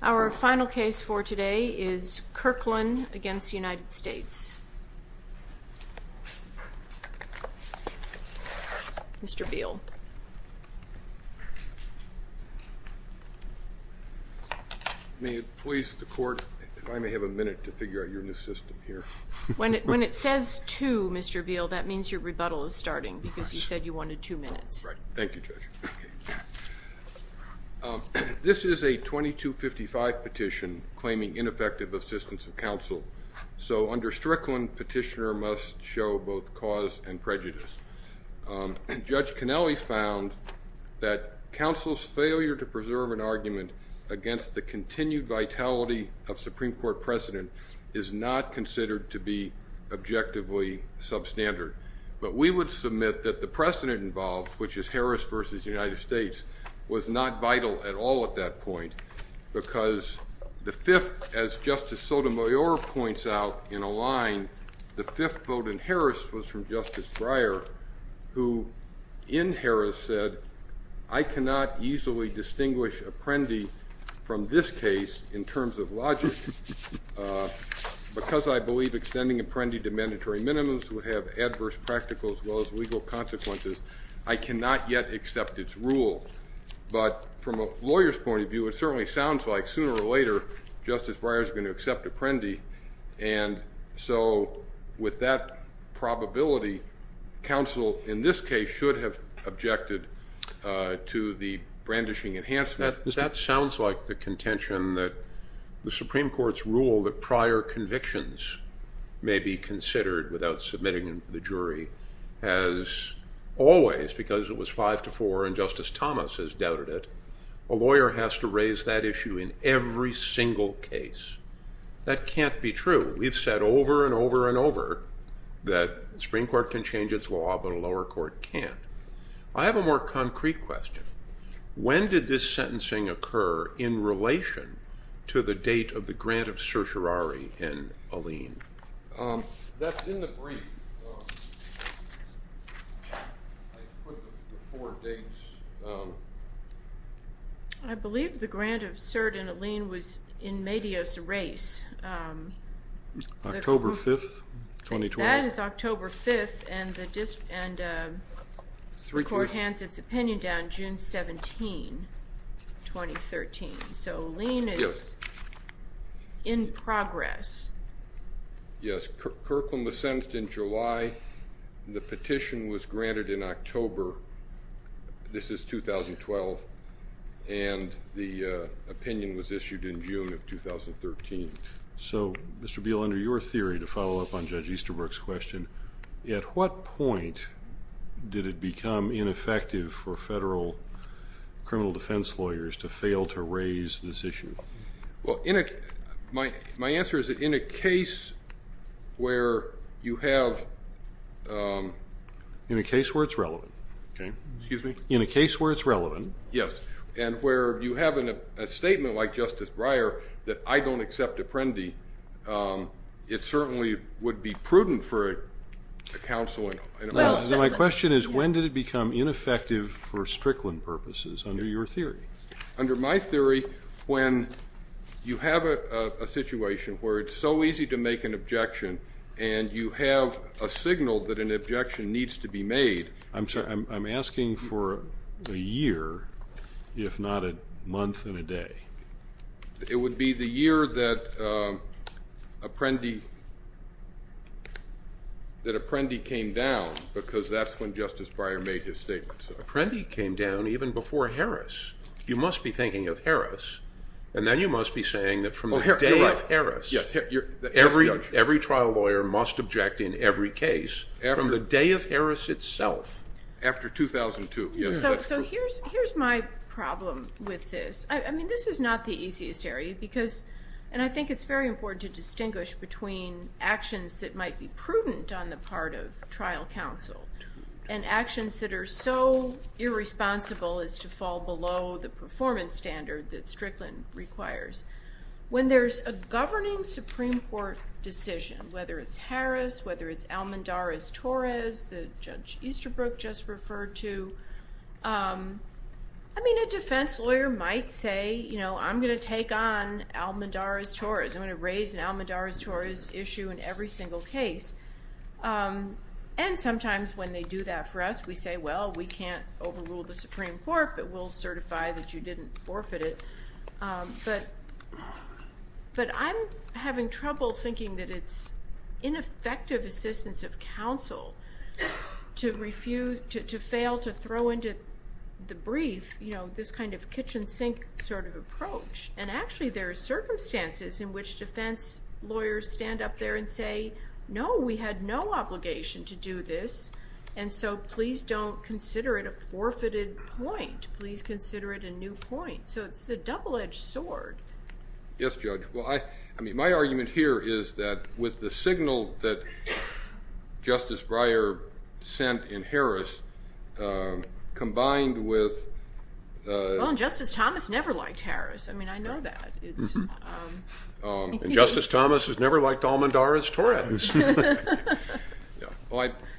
Our final case for today is Kirklin v. United States. Mr. Beall. May it please the court if I may have a minute to figure out your new system here? When it says two, Mr. Beall, that means your rebuttal is starting because you said you wanted two minutes. Thank you, Judge. This is a 2255 petition claiming ineffective assistance of counsel. So under Strickland, petitioner must show both cause and prejudice. Judge Connelly found that counsel's failure to preserve an argument against the continued vitality of Supreme Court precedent is not considered to be objectively substandard. But we would submit that the precedent involved, which is Harris v. United States, was not vital at all at that point. Because the fifth, as Justice Sotomayor points out in a line, the fifth vote in Harris was from Justice Breyer, who in Harris said, I cannot easily distinguish apprendi from this case in terms of logic. Because I believe extending apprendi to mandatory minimums would have adverse practical as well as legal consequences. I cannot yet accept its rule. But from a lawyer's point of view, it certainly sounds like sooner or later Justice Breyer is going to accept apprendi. And so with that probability, counsel in this case should have objected to the brandishing enhancement. That sounds like the contention that the Supreme Court's rule that prior convictions may be considered without submitting them to the jury has always, because it was five to four and Justice Thomas has doubted it, a lawyer has to raise that issue in every single case. That can't be true. We've said over and over and over that the Supreme Court can change its law, but a lower court can't. I have a more concrete question. When did this sentencing occur in relation to the date of the grant of certiorari in Alleyne? That's in the brief. I put the four dates down. I believe the grant of cert in Alleyne was in Medios Reis. October 5th, 2020. That is October 5th, and the court hands its opinion down June 17, 2013. So Alleyne is in progress. Yes. Kirkland was sentenced in July. The petition was granted in October. This is 2012. And the opinion was issued in June of 2013. So, Mr. Beal, under your theory, to follow up on Judge Easterbrook's question, at what point did it become ineffective for federal criminal defense lawyers to fail to raise this issue? Well, my answer is that in a case where you have ---- In a case where it's relevant. Okay. Excuse me? In a case where it's relevant. Yes. And where you have a statement like Justice Breyer that I don't accept Apprendi, it certainly would be prudent for a counsel. My question is when did it become ineffective for Strickland purposes under your theory? Under my theory, when you have a situation where it's so easy to make an objection and you have a signal that an objection needs to be made. I'm sorry. I'm asking for a year, if not a month and a day. It would be the year that Apprendi came down because that's when Justice Breyer made his statement. Apprendi came down even before Harris. You must be thinking of Harris, and then you must be saying that from the day of Harris, every trial lawyer must object in every case. From the day of Harris itself. After 2002. So here's my problem with this. I mean, this is not the easiest area because, and I think it's very important to distinguish between actions that might be prudent on the part of trial counsel and actions that are so irresponsible as to fall below the performance standard that Strickland requires. When there's a governing Supreme Court decision, whether it's Harris, whether it's Almendares-Torres, the Judge Easterbrook just referred to, I mean, a defense lawyer might say, you know, I'm going to take on Almendares-Torres. I'm going to raise an Almendares-Torres issue in every single case. And sometimes when they do that for us, we say, well, we can't overrule the Supreme Court, but we'll certify that you didn't forfeit it. But I'm having trouble thinking that it's ineffective assistance of counsel to refuse, to fail to throw into the brief, you know, this kind of kitchen sink sort of approach. And actually there are circumstances in which defense lawyers stand up there and say, no, we had no obligation to do this, and so please don't consider it a forfeited point. Please consider it a new point. So it's a double-edged sword. Yes, Judge. Well, I mean, my argument here is that with the signal that Justice Breyer sent in Harris combined with – Well, and Justice Thomas never liked Harris. I mean, I know that. And Justice Thomas has never liked Almendares-Torres.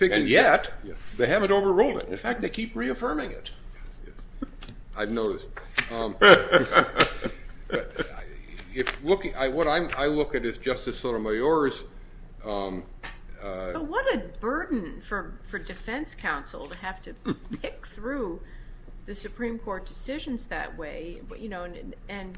And yet they haven't overruled it. In fact, they keep reaffirming it. I've noticed. What I look at is Justice Sotomayor's- But what a burden for defense counsel to have to pick through the Supreme Court decisions that way, and,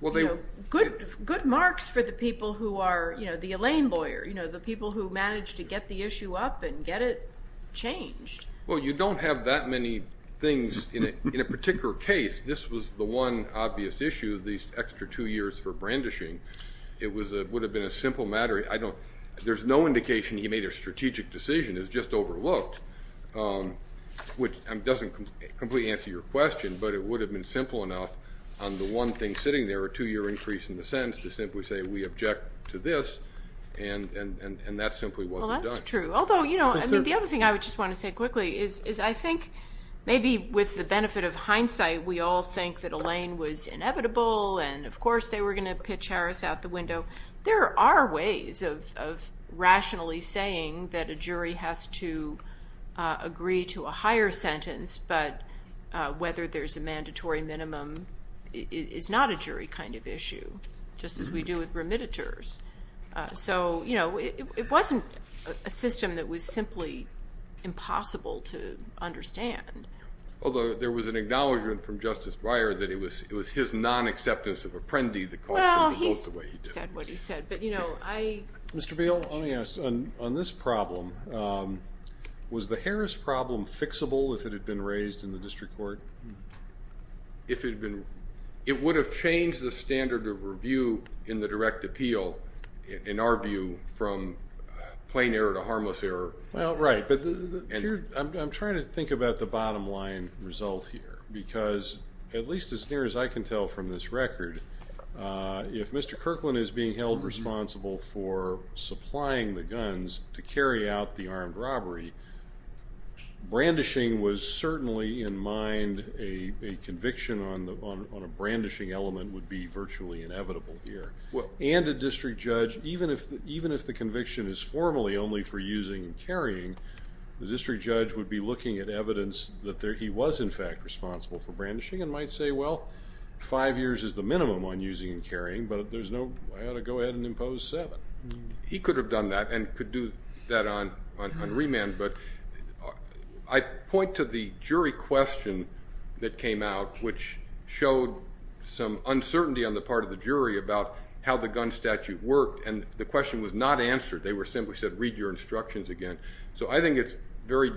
you know, good marks for the people who are, you know, the Elaine lawyer, you know, the people who managed to get the issue up and get it changed. Well, you don't have that many things. In a particular case, this was the one obvious issue, these extra two years for brandishing. It would have been a simple matter. There's no indication he made a strategic decision. It was just overlooked, which doesn't completely answer your question, but it would have been simple enough on the one thing sitting there, a two-year increase in the sentence, to simply say we object to this, and that simply wasn't done. Well, that's true. Although, you know, the other thing I just want to say quickly is I think maybe with the benefit of hindsight, we all think that Elaine was inevitable, and, of course, they were going to pitch Harris out the window. There are ways of rationally saying that a jury has to agree to a higher sentence, but whether there's a mandatory minimum is not a jury kind of issue, just as we do with remittitures. So, you know, it wasn't a system that was simply impossible to understand. Although there was an acknowledgment from Justice Breyer that it was his nonacceptance of apprendi that caused him to vote the way he did. Well, he said what he said, but, you know, I... Mr. Beal, let me ask. On this problem, was the Harris problem fixable if it had been raised in the district court? If it had been... It would have changed the standard of review in the direct appeal, in our view, from plain error to harmless error. Well, right, but I'm trying to think about the bottom line result here, because at least as near as I can tell from this record, if Mr. Kirkland is being held responsible for supplying the guns to carry out the armed robbery, brandishing was certainly in mind. A conviction on a brandishing element would be virtually inevitable here. And a district judge, even if the conviction is formally only for using and carrying, the district judge would be looking at evidence that he was, in fact, responsible for brandishing and might say, well, five years is the minimum on using and carrying, but there's no... I ought to go ahead and impose seven. He could have done that and could do that on remand, but I point to the jury question that came out, which showed some uncertainty on the part of the jury about how the gun statute worked, and the question was not answered. They were simply said, read your instructions again. So I think it's very...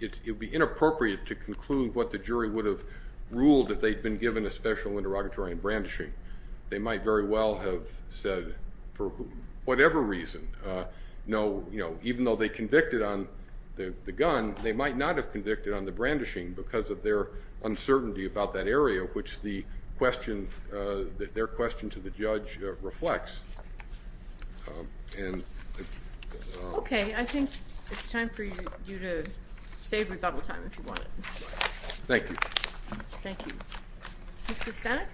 It would be inappropriate to conclude what the jury would have ruled if they'd been given a special interrogatory on brandishing. They might very well have said, for whatever reason, no... Even though they convicted on the gun, they might not have convicted on the brandishing because of their uncertainty about that area, which their question to the judge reflects. Okay. I think it's time for you to save rebuttal time if you want. Thank you. Thank you. Ms. Kostanek?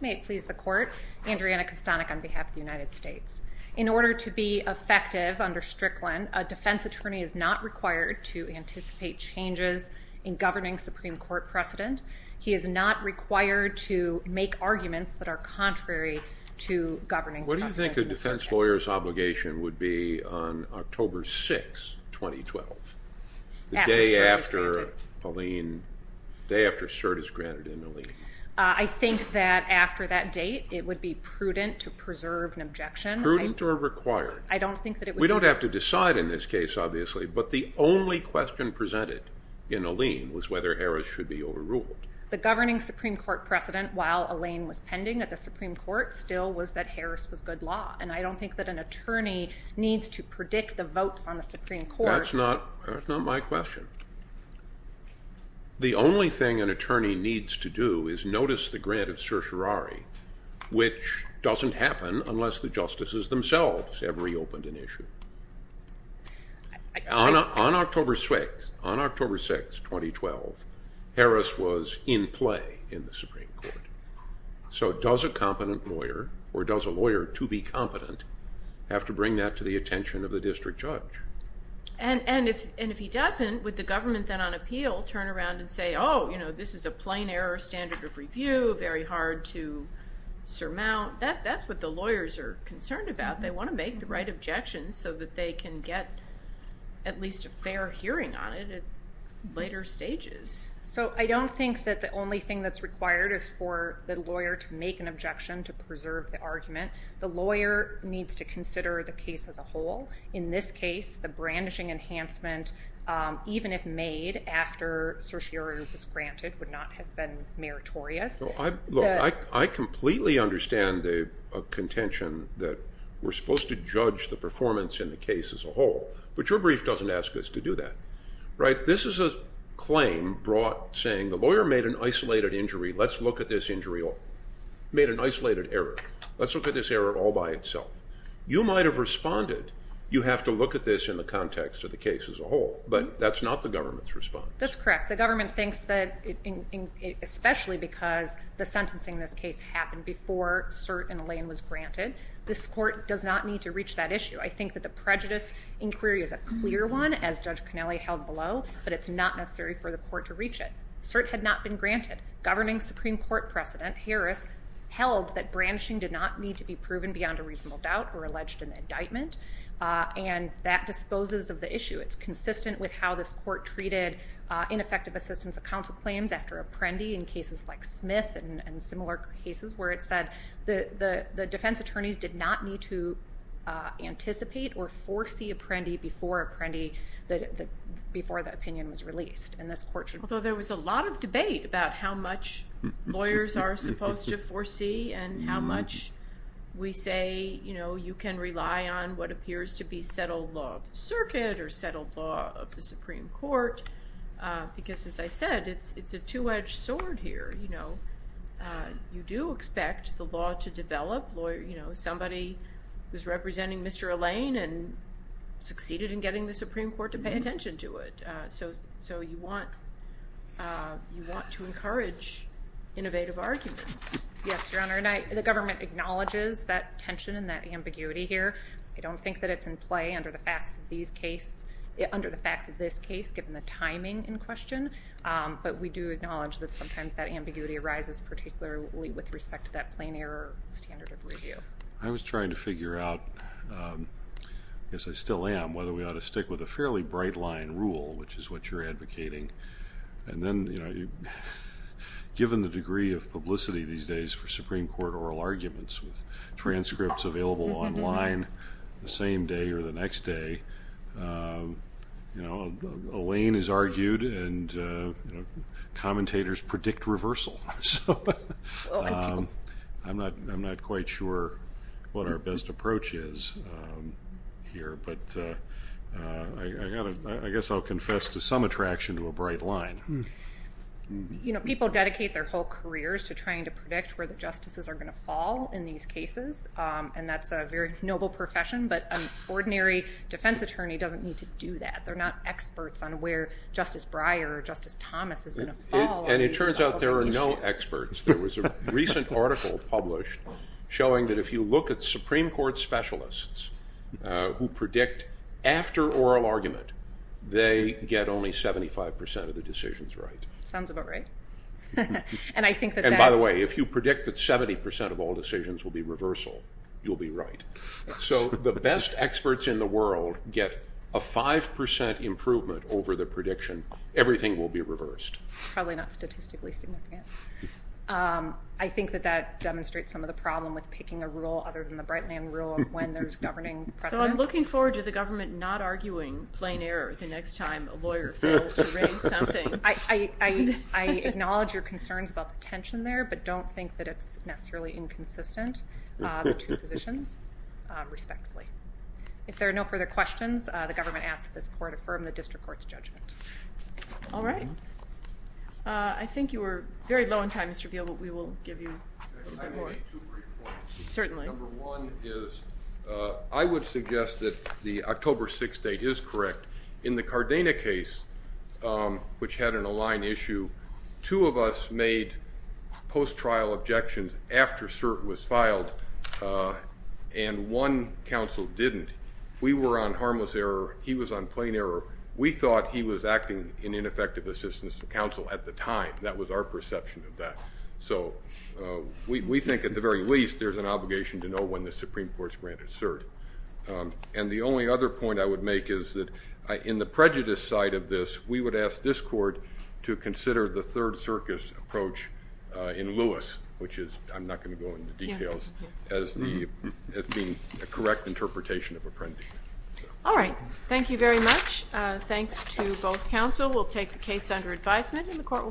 May it please the Court. Andreana Kostanek on behalf of the United States. In order to be effective under Strickland, a defense attorney is not required to anticipate changes in governing Supreme Court precedent. He is not required to make arguments that are contrary to governing Supreme Court precedent. What do you think a defense lawyer's obligation would be on October 6, 2012? The day after Alene.. .the day after cert is granted in Alene. I think that after that date, it would be prudent to preserve an objection. Prudent or required? I don't think that it would be... We don't have to decide in this case, obviously, but the only question presented in Alene was whether Harris should be overruled. The governing Supreme Court precedent, while Alene was pending at the Supreme Court, still was that Harris was good law, and I don't think that an attorney needs to predict the votes on the Supreme Court. That's not my question. The only thing an attorney needs to do is notice the grant of certiorari, which doesn't happen unless the justices themselves have reopened an issue. On October 6, 2012, Harris was in play in the Supreme Court. So does a competent lawyer, or does a lawyer to be competent, have to bring that to the attention of the district judge? And if he doesn't, would the government then on appeal turn around and say, oh, you know, this is a plain error standard of review, very hard to surmount? That's what the lawyers are concerned about. They want to make the right objections so that they can get at least a fair hearing on it at later stages. So I don't think that the only thing that's required is for the lawyer to make an objection to preserve the argument. The lawyer needs to consider the case as a whole. In this case, the brandishing enhancement, even if made after certiorari was granted, would not have been meritorious. Look, I completely understand the contention that we're supposed to judge the performance in the case as a whole, but your brief doesn't ask us to do that. This is a claim brought saying the lawyer made an isolated injury. Let's look at this injury. He made an isolated error. Let's look at this error all by itself. You might have responded, you have to look at this in the context of the case as a whole, but that's not the government's response. That's correct. The government thinks that, especially because the sentencing in this case happened before cert in the lane was granted, this court does not need to reach that issue. I think that the prejudice inquiry is a clear one, as Judge Connelly held below, but it's not necessary for the court to reach it. Cert had not been granted. Governing Supreme Court precedent, Harris, held that branching did not need to be proven beyond a reasonable doubt or alleged in the indictment, and that disposes of the issue. It's consistent with how this court treated ineffective assistance of counsel claims after apprendi in cases like Smith and similar cases where it said the defense attorneys did not need to anticipate or foresee apprendi before apprendi, before the opinion was released. Although there was a lot of debate about how much lawyers are supposed to foresee and how much we say you can rely on what appears to be settled law of the circuit or settled law of the Supreme Court because, as I said, it's a two-edged sword here. You do expect the law to develop. Somebody was representing Mr. Allain and succeeded in getting the Supreme Court to pay attention to it, so you want to encourage innovative arguments. Yes, Your Honor, and the government acknowledges that tension and that ambiguity here. I don't think that it's in play under the facts of this case, given the timing in question, but we do acknowledge that sometimes that ambiguity arises, particularly with respect to that plain error standard of review. I was trying to figure out, I guess I still am, whether we ought to stick with a fairly bright-line rule, which is what you're advocating, and then given the degree of publicity these days for Supreme Court oral arguments with transcripts available online the same day or the next day, Allain is argued and commentators predict reversal. I'm not quite sure what our best approach is here, but I guess I'll confess to some attraction to a bright line. You know, people dedicate their whole careers to trying to predict where the justices are going to fall in these cases, and that's a very noble profession, but an ordinary defense attorney doesn't need to do that. They're not experts on where Justice Breyer or Justice Thomas is going to fall. And it turns out there are no experts. There was a recent article published showing that if you look at Supreme Court specialists who predict after oral argument, they get only 75% of the decisions right. Sounds about right. And by the way, if you predict that 70% of all decisions will be reversal, you'll be right. So the best experts in the world get a 5% improvement over the prediction. Everything will be reversed. Probably not statistically significant. I think that that demonstrates some of the problem with picking a rule other than the Bright Line rule of when there's governing precedent. So I'm looking forward to the government not arguing plain error the next time a lawyer fails to raise something. I acknowledge your concerns about the tension there, but don't think that it's necessarily inconsistent, the two positions respectively. If there are no further questions, the government asks that this court affirm the district court's judgment. All right. I think you were very low on time, Mr. Veal, but we will give you a bit more. I have maybe two brief points. Certainly. Number one is I would suggest that the October 6th date is correct. In the Cardena case, which had an aligned issue, two of us made post-trial objections after cert was filed, and one counsel didn't. We were on harmless error. He was on plain error. We thought he was acting in ineffective assistance to counsel at the time. That was our perception of that. So we think at the very least there's an obligation to know when the Supreme Court's granted cert. And the only other point I would make is that in the prejudice side of this, we would ask this court to consider the third circus approach in Lewis, which is, I'm not going to go into details, as being a correct interpretation of a prejudice. All right. Thank you very much. Thanks to both counsel. We'll take the case under advisement, and the court will be adjourned.